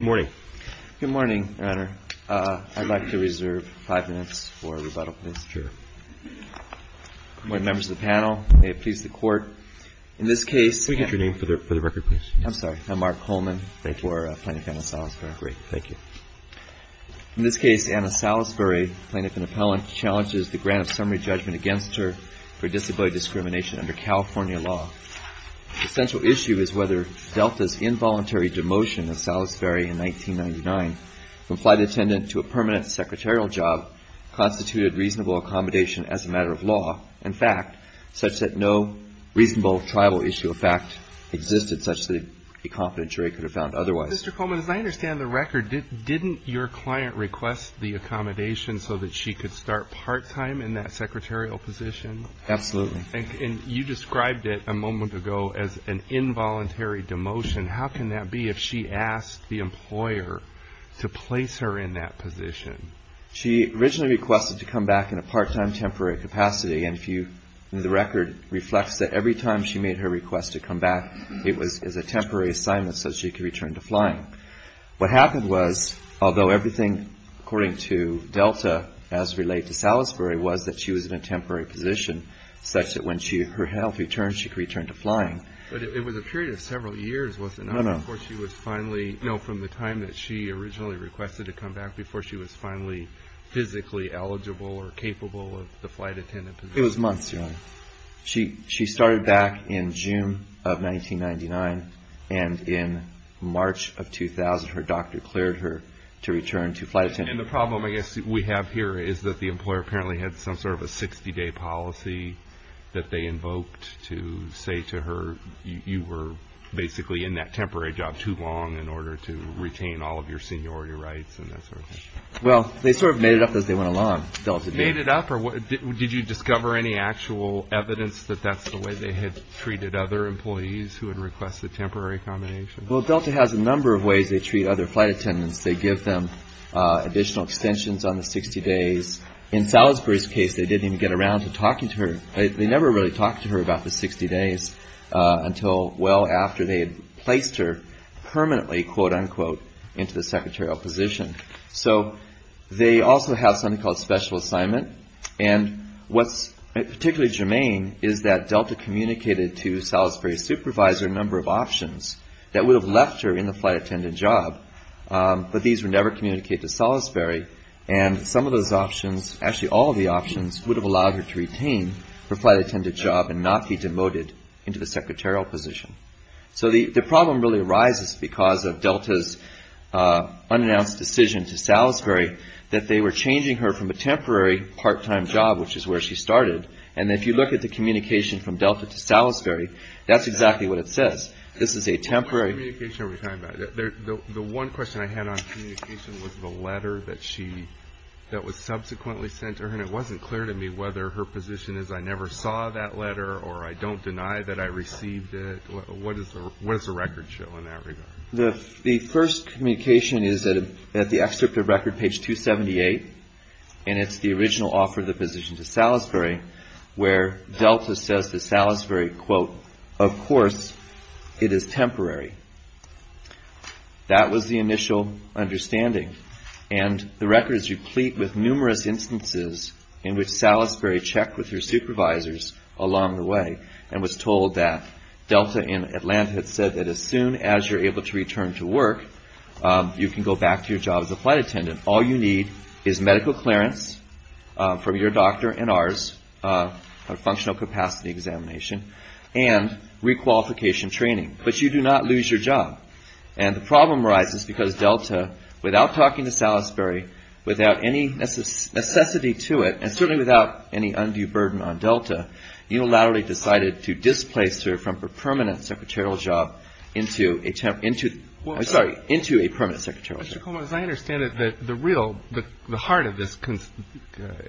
Good morning. Good morning, Your Honor. I'd like to reserve five minutes for rebuttal, if that's true. Good morning, members of the panel. May it please the Court, in this case... Can we get your name for the record, please? I'm sorry. I'm Mark Coleman. Thank you. We're plaintiff and appellant. Great. Thank you. In this case, Anna Salisbury, plaintiff and appellant, challenges the grant of summary judgment against her for disability discrimination under California law. The central issue is whether Delta's involuntary demotion of Salisbury in 1999 from flight attendant to a permanent secretarial job constituted reasonable accommodation as a matter of law and fact, such that no reasonable tribal issue of fact existed such that a competent jury could have found otherwise. Mr. Coleman, as I understand the record, didn't your client request the accommodation so that she could start part-time in that secretarial position? Absolutely. And you described it a moment ago as an involuntary demotion. How can that be if she asked the employer to place her in that position? She originally requested to come back in a part-time temporary capacity, and the record reflects that every time she made her request to come back, it was as a temporary assignment so that she could return to flying. What happened was, although everything according to Delta as related to Salisbury was that she was in a temporary position such that when her health returned, she could return to flying. But it was a period of several years, wasn't it? No, no. Before she was finally, you know, from the time that she originally requested to come back, before she was finally physically eligible or capable of the flight attendant position. It was months, Your Honor. She started back in June of 1999, and in March of 2000, her doctor declared her to return to flight attendant. And the problem, I guess, we have here is that the employer apparently had some sort of a 60-day policy that they invoked to say to her, you were basically in that temporary job too long in order to retain all of your seniority rights and that sort of thing. Well, they sort of made it up as they went along, Delta did. Made it up? Did you discover any actual evidence that that's the way they had treated other employees who had requested temporary accommodations? Well, Delta has a number of ways they treat other flight attendants. They give them additional extensions on the 60 days. In Salisbury's case, they didn't even get around to talking to her. They never really talked to her about the 60 days until well after they had placed her permanently, quote-unquote, into the secretarial position. So they also have something called special assignment. And what's particularly germane is that Delta communicated to Salisbury's supervisor a number of options that would have left her in the flight attendant job. But these would never communicate to Salisbury. And some of those options, actually all of the options, would have allowed her to retain her flight attendant job and not be demoted into the secretarial position. So the problem really arises because of Delta's unannounced decision to Salisbury that they were changing her from a temporary part-time job, which is where she started. And if you look at the communication from Delta to Salisbury, that's exactly what it says. This is a temporary... The one question I had on communication was the letter that was subsequently sent to her. And it wasn't clear to me whether her position is, I never saw that letter or I don't deny that I received it. What does the record show in that regard? The first communication is at the excerpt of record, page 278. where Delta says to Salisbury, quote, Of course, it is temporary. That was the initial understanding. And the record is replete with numerous instances in which Salisbury checked with her supervisors along the way and was told that Delta in Atlanta had said that as soon as you're able to return to work, you can go back to your job as a flight attendant. All you need is medical clearance from your doctor and ours, a functional capacity examination, and requalification training. But you do not lose your job. And the problem arises because Delta, without talking to Salisbury, without any necessity to it, and certainly without any undue burden on Delta, unilaterally decided to displace her from her permanent secretarial job into a temporary... I'm sorry, into a permanent secretarial job. Mr. Coleman, as I understand it, the real, the heart of this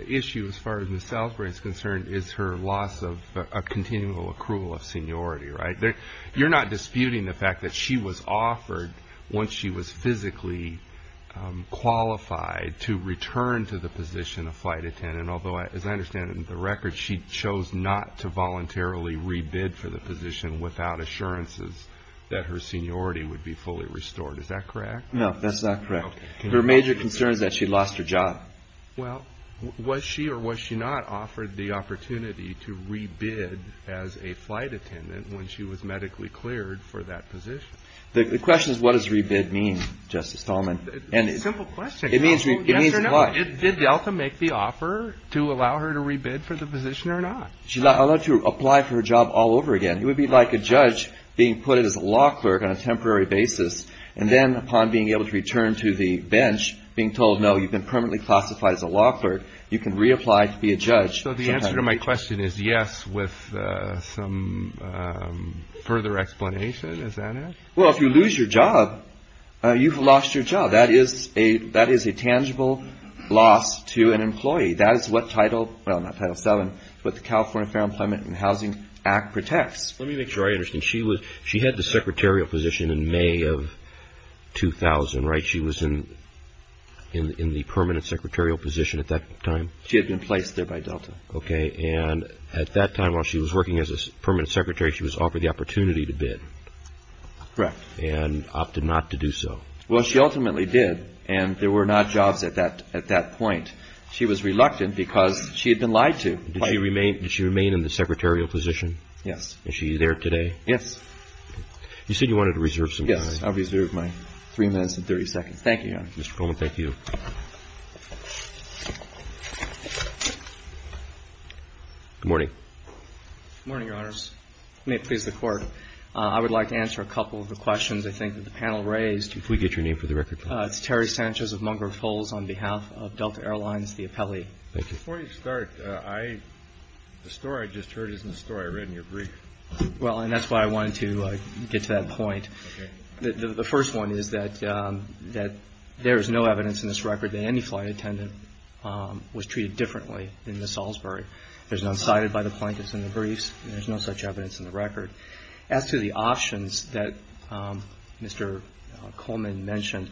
issue as far as Ms. Salisbury is concerned is her loss of a continual accrual of seniority, right? You're not disputing the fact that she was offered, once she was physically qualified, to return to the position of flight attendant, although, as I understand it in the record, she chose not to voluntarily re-bid for the position without assurances that her seniority would be fully restored. Is that correct? No, that's not correct. Her major concern is that she lost her job. Well, was she or was she not offered the opportunity to re-bid as a flight attendant when she was medically cleared for that position? The question is, what does re-bid mean, Justice Coleman? It's a simple question. It means what? Did Delta make the offer to allow her to re-bid for the position or not? She's allowed to apply for her job all over again. It would be like a judge being put as a law clerk on a temporary basis and then, upon being able to return to the bench, being told, no, you've been permanently classified as a law clerk, you can reapply to be a judge. So the answer to my question is yes with some further explanation, is that it? Well, if you lose your job, you've lost your job. That is a tangible loss to an employee. That is what Title 7, what the California Fair Employment and Housing Act protects. Let me make sure I understand. She had the secretarial position in May of 2000, right? She was in the permanent secretarial position at that time? She had been placed there by Delta. And at that time, while she was working as a permanent secretary, she was offered the opportunity to bid and opted not to do so. Well, she ultimately did, and there were not jobs at that point. She was reluctant because she had been lied to. Did she remain in the secretarial position? Yes. Was she there today? Yes. You said you wanted to reserve some time. Yes, I'll reserve my three minutes and 30 seconds. Thank you, Your Honor. Mr. Coleman, thank you. Good morning. Good morning, Your Honors. May it please the Court. I would like to answer a couple of the questions I think that the panel raised. If we could get your name for the record, please. Thank you. Before you start, the story I just heard isn't the story I read in your brief. Well, and that's why I wanted to get to that point. The first one is that there is no evidence in this record that any flight attendant was treated differently in Miss Salisbury. There's none cited by the plaintiffs in the briefs. There's no such evidence in the record. As to the options that Mr. Coleman mentioned,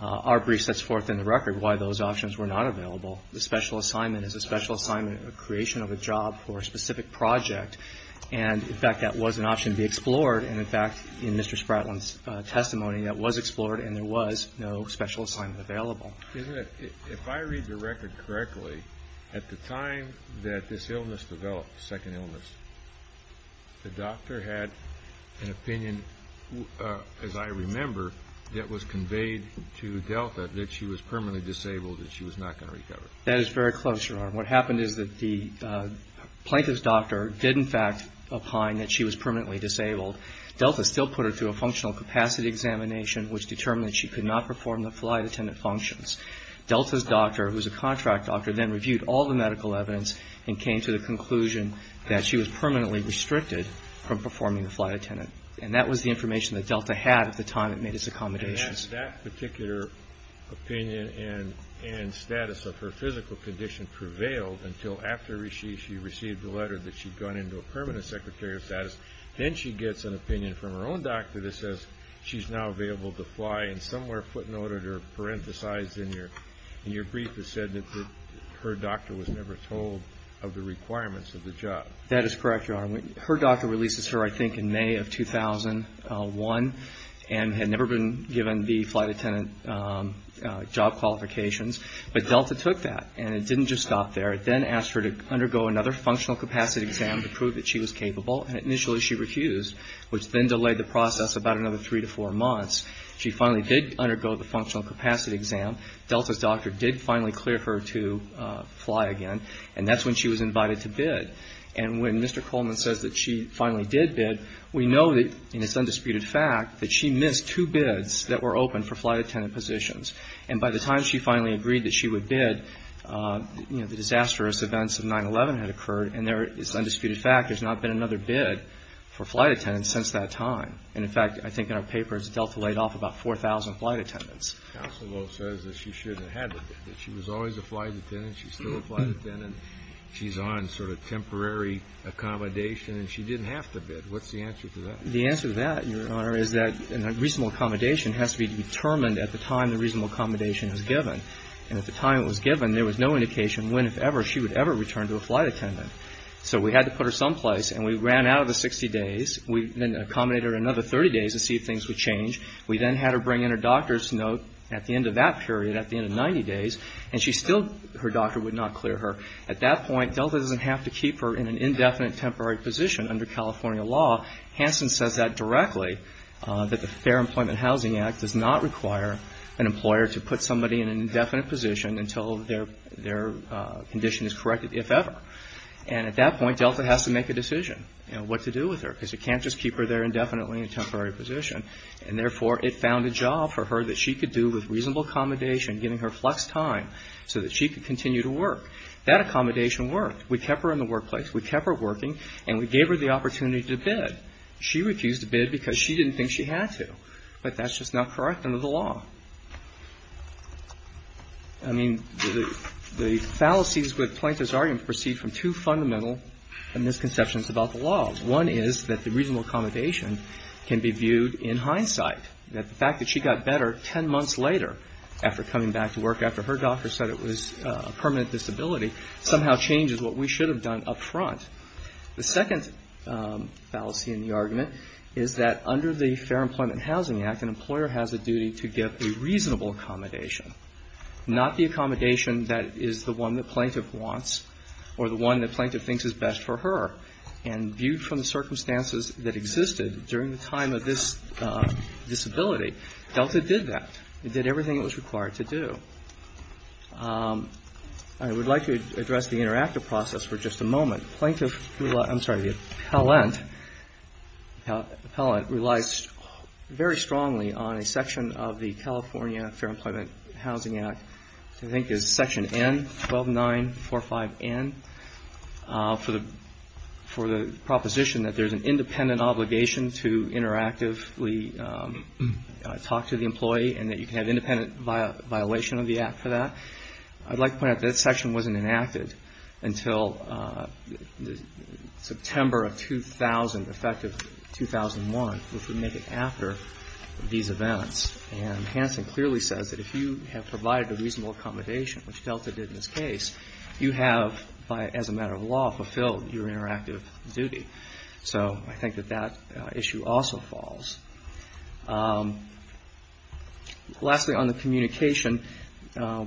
our brief sets forth in the record why those options were not available. The special assignment is a special assignment, a creation of a job for a specific project. And, in fact, that was an option to be explored. And, in fact, in Mr. Spratlin's testimony, that was explored and there was no special assignment available. If I read the record correctly, at the time that this illness developed, the second illness, the doctor had an opinion, as I remember, that was conveyed to Delta that she was permanently disabled and she was not going to recover. That is very close, Your Honor. What happened is that the plaintiff's doctor did, in fact, opine that she was permanently disabled. Delta still put her through a functional capacity examination, which determined that she could not perform the flight attendant functions. Delta's doctor, who was a contract doctor, then reviewed all the medical evidence and came to the conclusion that she was permanently restricted from performing the flight attendant. And that was the information that Delta had at the time it made its accommodations. And that particular opinion and status of her physical condition prevailed until after she received the letter that she'd gone into a permanent secretary of status. Then she gets an opinion from her own doctor that says she's now available to fly. And somewhere footnoted or parenthesized in your brief, it said that her doctor was never told of the requirements of the job. That is correct, Your Honor. Her doctor released this to her, I think, in May of 2001 and had never been given the flight attendant job qualifications. But Delta took that and it didn't just stop there. It then asked her to undergo another functional capacity exam to prove that she was capable. And initially she refused, which then delayed the process about another three to four months. She finally did undergo the functional capacity exam. Delta's doctor did finally clear her to fly again. And that's when she was invited to bid. And when Mr. Coleman says that she finally did bid, we know that, in its undisputed fact, that she missed two bids that were open for flight attendant positions. And by the time she finally agreed that she would bid, you know, the disastrous events of 9-11 had occurred. And there is undisputed fact there's not been another bid for flight attendants since that time. And, in fact, I think in our papers, Delta laid off about 4,000 flight attendants. Counsel says that she shouldn't have had the bid, that she was always a flight attendant, she's still a flight attendant, she's on sort of temporary accommodation, and she didn't have to bid. What's the answer to that? The answer to that, Your Honor, is that a reasonable accommodation has to be determined at the time the reasonable accommodation is given. And at the time it was given, there was no indication when, if ever, she would ever return to a flight attendant. So we had to put her someplace. And we ran out of the 60 days. We then accommodated her another 30 days to see if things would change. We then had her bring in her doctor's note at the end of that period, at the end of 90 days. And she still, her doctor would not clear her. At that point, Delta doesn't have to keep her in an indefinite temporary position under California law. Hansen says that directly, that the Fair Employment Housing Act does not require an employer to put somebody in an indefinite position until their condition is corrected, if ever. And at that point, Delta has to make a decision, you know, what to do with her, because you can't just keep her there indefinitely in a temporary position. And therefore, it found a job for her that she could do with reasonable accommodation, giving her flex time so that she could continue to work. That accommodation worked. We kept her in the workplace. We kept her working. And we gave her the opportunity to bid. She refused to bid because she didn't think she had to. But that's just not correct under the law. I mean, the fallacies with Plaintiff's argument proceed from two fundamental misconceptions about the law. One is that the reasonable accommodation can be viewed in hindsight, that the fact that she got better 10 months later after coming back to work, after her doctor said it was a permanent disability, somehow changes what we should have done up front. The second fallacy in the argument is that under the Fair Employment Housing Act, an employer has a duty to give a reasonable accommodation, not the accommodation that is the one that Plaintiff wants or the one that Plaintiff thinks is best for her. And viewed from the circumstances that existed during the time of this disability, DELTA did that. It did everything it was required to do. I would like to address the interactive process for just a moment. I'm sorry. The appellant relies very strongly on a section of the California Fair Employment Housing Act. I think it's section N, 12945N, for the proposition that there's an independent obligation to interactively talk to the employee and that you can have independent violation of the act for that. I'd like to point out that this section wasn't enacted until September of 2000, effective 2001, which would make it after these events. And Hansen clearly says that if you have provided a reasonable accommodation, which DELTA did in this case, you have, as a matter of law, fulfilled your interactive duty. So I think that that issue also falls. Lastly, on the communication, I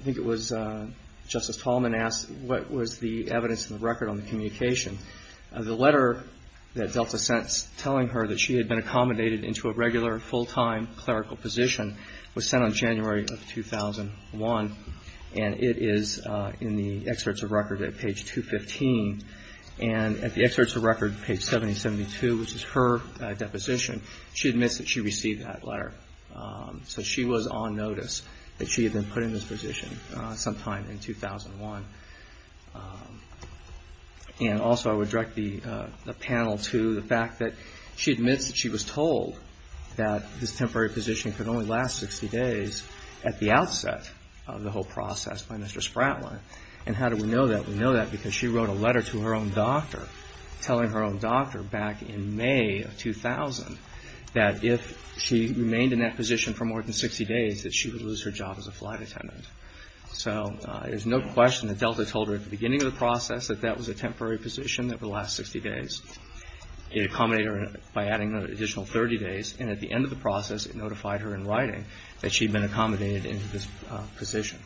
think it was Justice Tallman asked what was the evidence in the record on the communication. The letter that DELTA sent telling her that she had been accommodated into a regular full-time clerical position was sent on January of 2001. And it is in the excerpts of record at page 215. And at the excerpts of record, page 7072, which is her deposition, she admits that she received that letter. So she was on notice that she had been put in this position sometime in 2001. And also I would direct the panel to the fact that she admits that she was told that this temporary position could only last 60 days at the outset of the whole process by Mr. Spratlin. And how do we know that? We know that because she wrote a letter to her own doctor telling her own doctor back in May of 2000 that if she remained in that position for more than 60 days that she would lose her job as a flight attendant. So there's no question that DELTA told her at the beginning of the process that that was a temporary position that would last 60 days. It accommodated her by adding an additional 30 days. And at the end of the process, it notified her in writing that she had been accommodated into this position.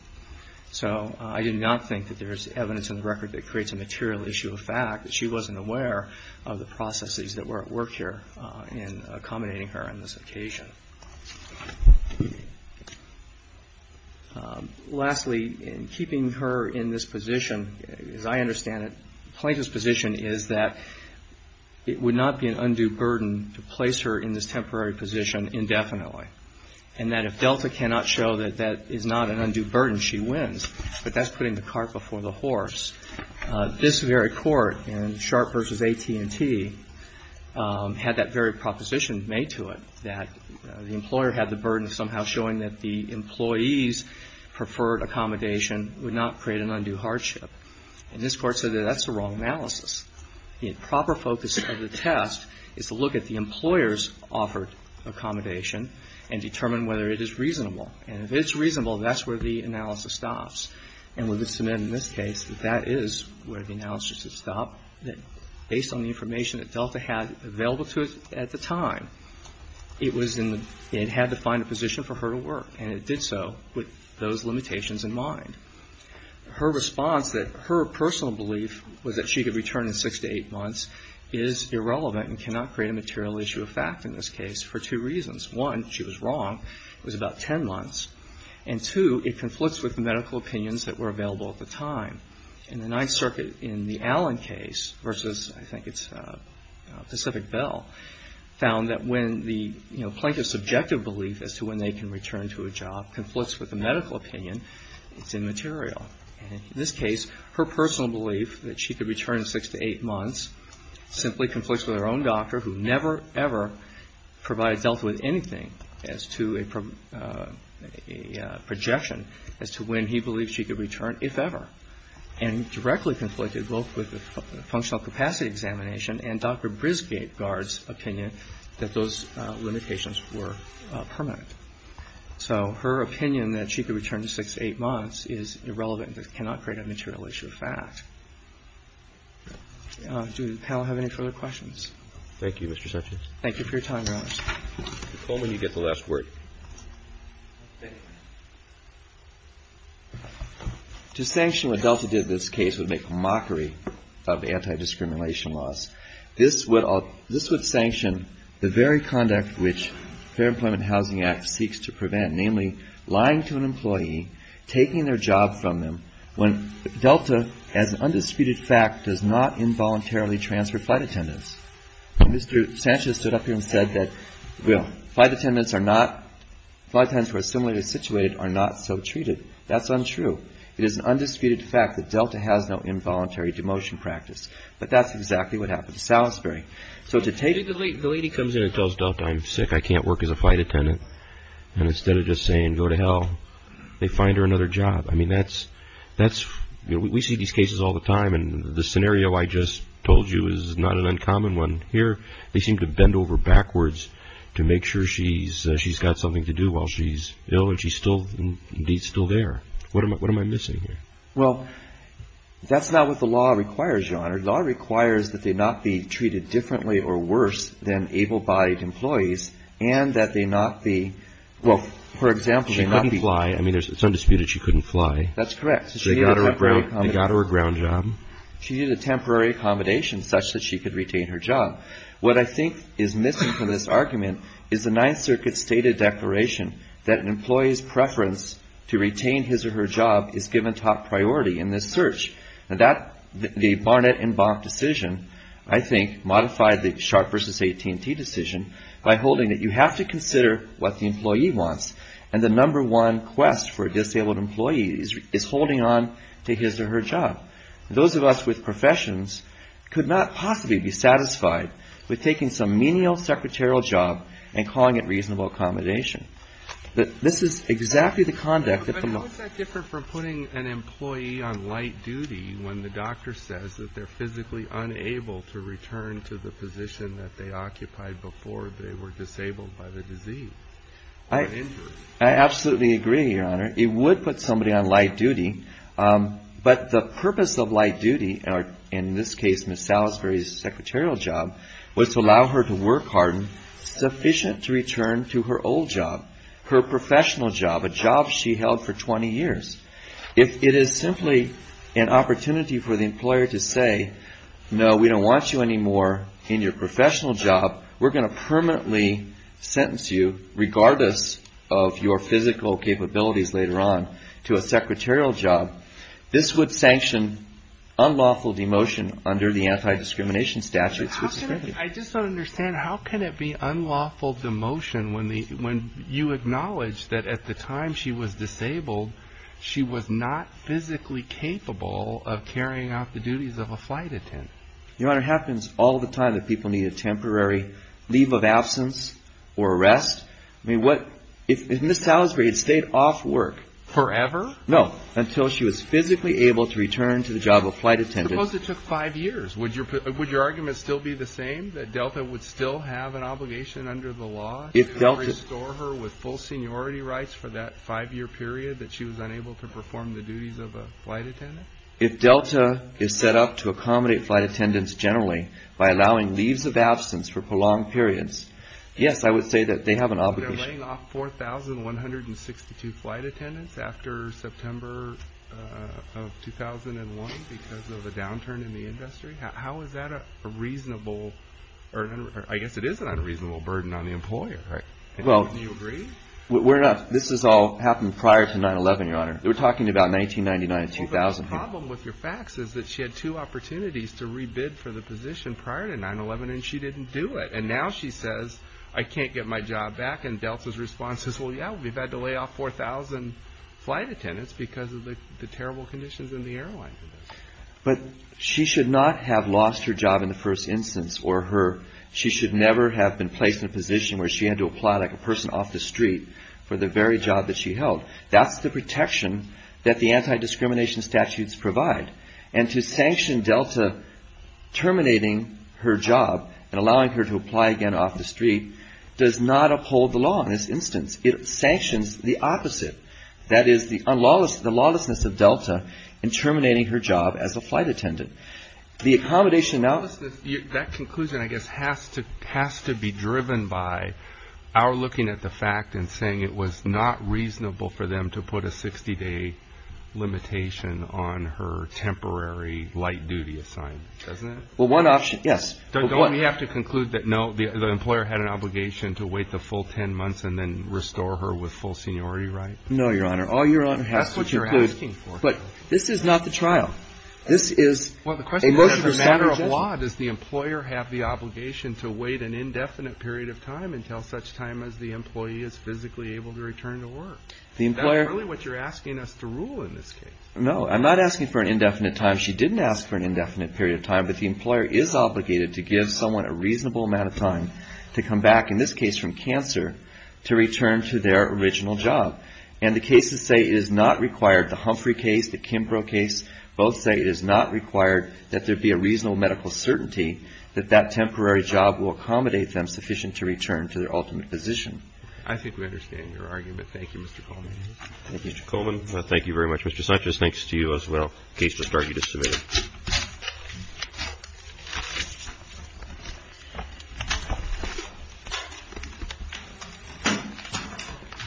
So I do not think that there's evidence in the record that creates a material issue of fact that she wasn't aware of the processes that were at work here in accommodating her on this occasion. Lastly, in keeping her in this position, as I understand it, Plaintiff's position is that it would not be an undue burden to place her in this temporary position indefinitely. And that if DELTA cannot show that that is not an undue burden, she wins. But that's putting the cart before the horse. This very Court in Sharp v. AT&T had that very proposition made to it, that the employer had the burden of somehow showing that the employee's preferred accommodation would not create an undue hardship. And this Court said that that's the wrong analysis. The improper focus of the test is to look at the employer's offered accommodation and determine whether it is reasonable. And if it's reasonable, that's where the analysis stops. And we'll just submit in this case that that is where the analysis would stop, that based on the information that DELTA had available to it at the time, it was in the — it had to find a position for her to work. And it did so with those limitations in mind. Her response that her personal belief was that she could return in six to eight months is irrelevant and cannot create a material issue of fact in this case for two reasons. One, she was wrong. It was about 10 months. And, two, it conflicts with the medical opinions that were available at the time. And the Ninth Circuit in the Allen case versus, I think it's Pacific Bell, found that when the plaintiff's subjective belief as to when they can return to a job conflicts with the medical opinion, it's immaterial. And in this case, her personal belief that she could return in six to eight months simply conflicts with her own doctor, who never, ever provided DELTA with anything as to a projection as to when he believed she could return, if ever, and directly conflicted both with the functional capacity examination and Dr. Brisgaard's opinion that those limitations were permanent. So her opinion that she could return in six to eight months is irrelevant and cannot create a material issue of fact. Do the panel have any further questions? Thank you, Mr. Sessions. Thank you for your time, Your Honor. Mr. Coleman, you get the last word. Thank you. To sanction what DELTA did in this case would make a mockery of anti-discrimination laws. This would sanction the very conduct which the Fair Employment Housing Act seeks to prevent, namely lying to an employee, taking their job from them, when DELTA, as an undisputed fact, does not involuntarily transfer flight attendants. Mr. Sessions stood up here and said that, well, flight attendants who are similarly situated are not so treated. That's untrue. It is an undisputed fact that DELTA has no involuntary demotion practice. But that's exactly what happened to Salisbury. So the lady comes in and tells DELTA, I'm sick. I can't work as a flight attendant. And instead of just saying, go to hell, they find her another job. I mean, we see these cases all the time, and the scenario I just told you is not an uncommon one. Here, they seem to bend over backwards to make sure she's got something to do while she's ill and she's still indeed still there. What am I missing here? Well, that's not what the law requires, Your Honor. The law requires that they not be treated differently or worse than able-bodied employees and that they not be, well, for example, they not be. She couldn't fly. I mean, it's undisputed she couldn't fly. That's correct. They got her a ground job. She needed a temporary accommodation such that she could retain her job. What I think is missing from this argument is the Ninth Circuit's stated declaration that an employee's preference to retain his or her job is given top priority in this search. The Barnett and Bonk decision, I think, modified the Sharp v. AT&T decision by holding that you have to consider what the employee wants, and the number one quest for a disabled employee is holding on to his or her job. Those of us with professions could not possibly be satisfied with taking some menial secretarial job and calling it reasonable accommodation. This is exactly the conduct that the law ---- But how is that different from putting an employee on light duty when the doctor says that they're physically unable to return to the position that they occupied before they were disabled by the disease? I absolutely agree, Your Honor. It would put somebody on light duty. But the purpose of light duty, in this case Ms. Salisbury's secretarial job, was to allow her to work hard and sufficient to return to her old job, her professional job, a job she held for 20 years. If it is simply an opportunity for the employer to say, no, we don't want you anymore in your professional job, we're going to permanently sentence you, regardless of your physical capabilities later on, to a secretarial job, this would sanction unlawful demotion under the anti-discrimination statute. I just don't understand. How can it be unlawful demotion when you acknowledge that at the time she was disabled, she was not physically capable of carrying out the duties of a flight attendant? Your Honor, it happens all the time that people need a temporary leave of absence or rest. I mean, what ---- Ms. Salisbury had stayed off work. Forever? No, until she was physically able to return to the job of flight attendant. Suppose it took five years. Would your argument still be the same, that Delta would still have an obligation under the law to restore her with full seniority rights for that five-year period that she was unable to perform the duties of a flight attendant? If Delta is set up to accommodate flight attendants generally by allowing leaves of absence for prolonged periods, yes, I would say that they have an obligation. They're laying off 4,162 flight attendants after September of 2001 because of a downturn in the industry. How is that a reasonable, or I guess it is an unreasonable burden on the employer. Do you agree? This has all happened prior to 9-11, Your Honor. We're talking about 1999 to 2000. The problem with your facts is that she had two opportunities to re-bid for the position prior to 9-11, and she didn't do it. And now she says, I can't get my job back. And Delta's response is, well, yeah, we've had to lay off 4,000 flight attendants because of the terrible conditions in the airline for this. But she should not have lost her job in the first instance, or her. She should never have been placed in a position where she had to apply like a person off the street for the very job that she held. That's the protection that the anti-discrimination statutes provide. And to sanction Delta terminating her job and allowing her to apply again off the street does not uphold the law in this instance. It sanctions the opposite. That is the lawlessness of Delta in terminating her job as a flight attendant. The accommodation now. That conclusion, I guess, has to be driven by our looking at the fact and saying it was not reasonable for them to put a 60-day limitation on her temporary light-duty assignment, doesn't it? Well, one option, yes. Don't we have to conclude that, no, the employer had an obligation to wait the full 10 months and then restore her with full seniority rights? No, Your Honor. All Your Honor has to conclude. That's what you're asking for. But this is not the trial. This is a motion to sanction. Well, the question is, as a matter of law, does the employer have the obligation to wait an indefinite period of time until such time as the employee is physically able to return to work? The employer. Is that really what you're asking us to rule in this case? No. I'm not asking for an indefinite time. She didn't ask for an indefinite period of time. But the employer is obligated to give someone a reasonable amount of time to come back, in this case from cancer, to return to their original job. And the cases say it is not required, the Humphrey case, the Kimbrough case, both say it is not required that there be a reasonable medical certainty that that temporary job will accommodate them sufficient to return to their ultimate position. I think we understand your argument. Thank you, Mr. Coleman. Thank you, Mr. Coleman. Thank you very much. Mr. Sanchez, thanks to you as well. Case to start. You just submit it.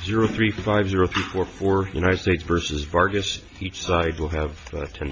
035-0344, United States v. Vargas, each side will have 10 minutes.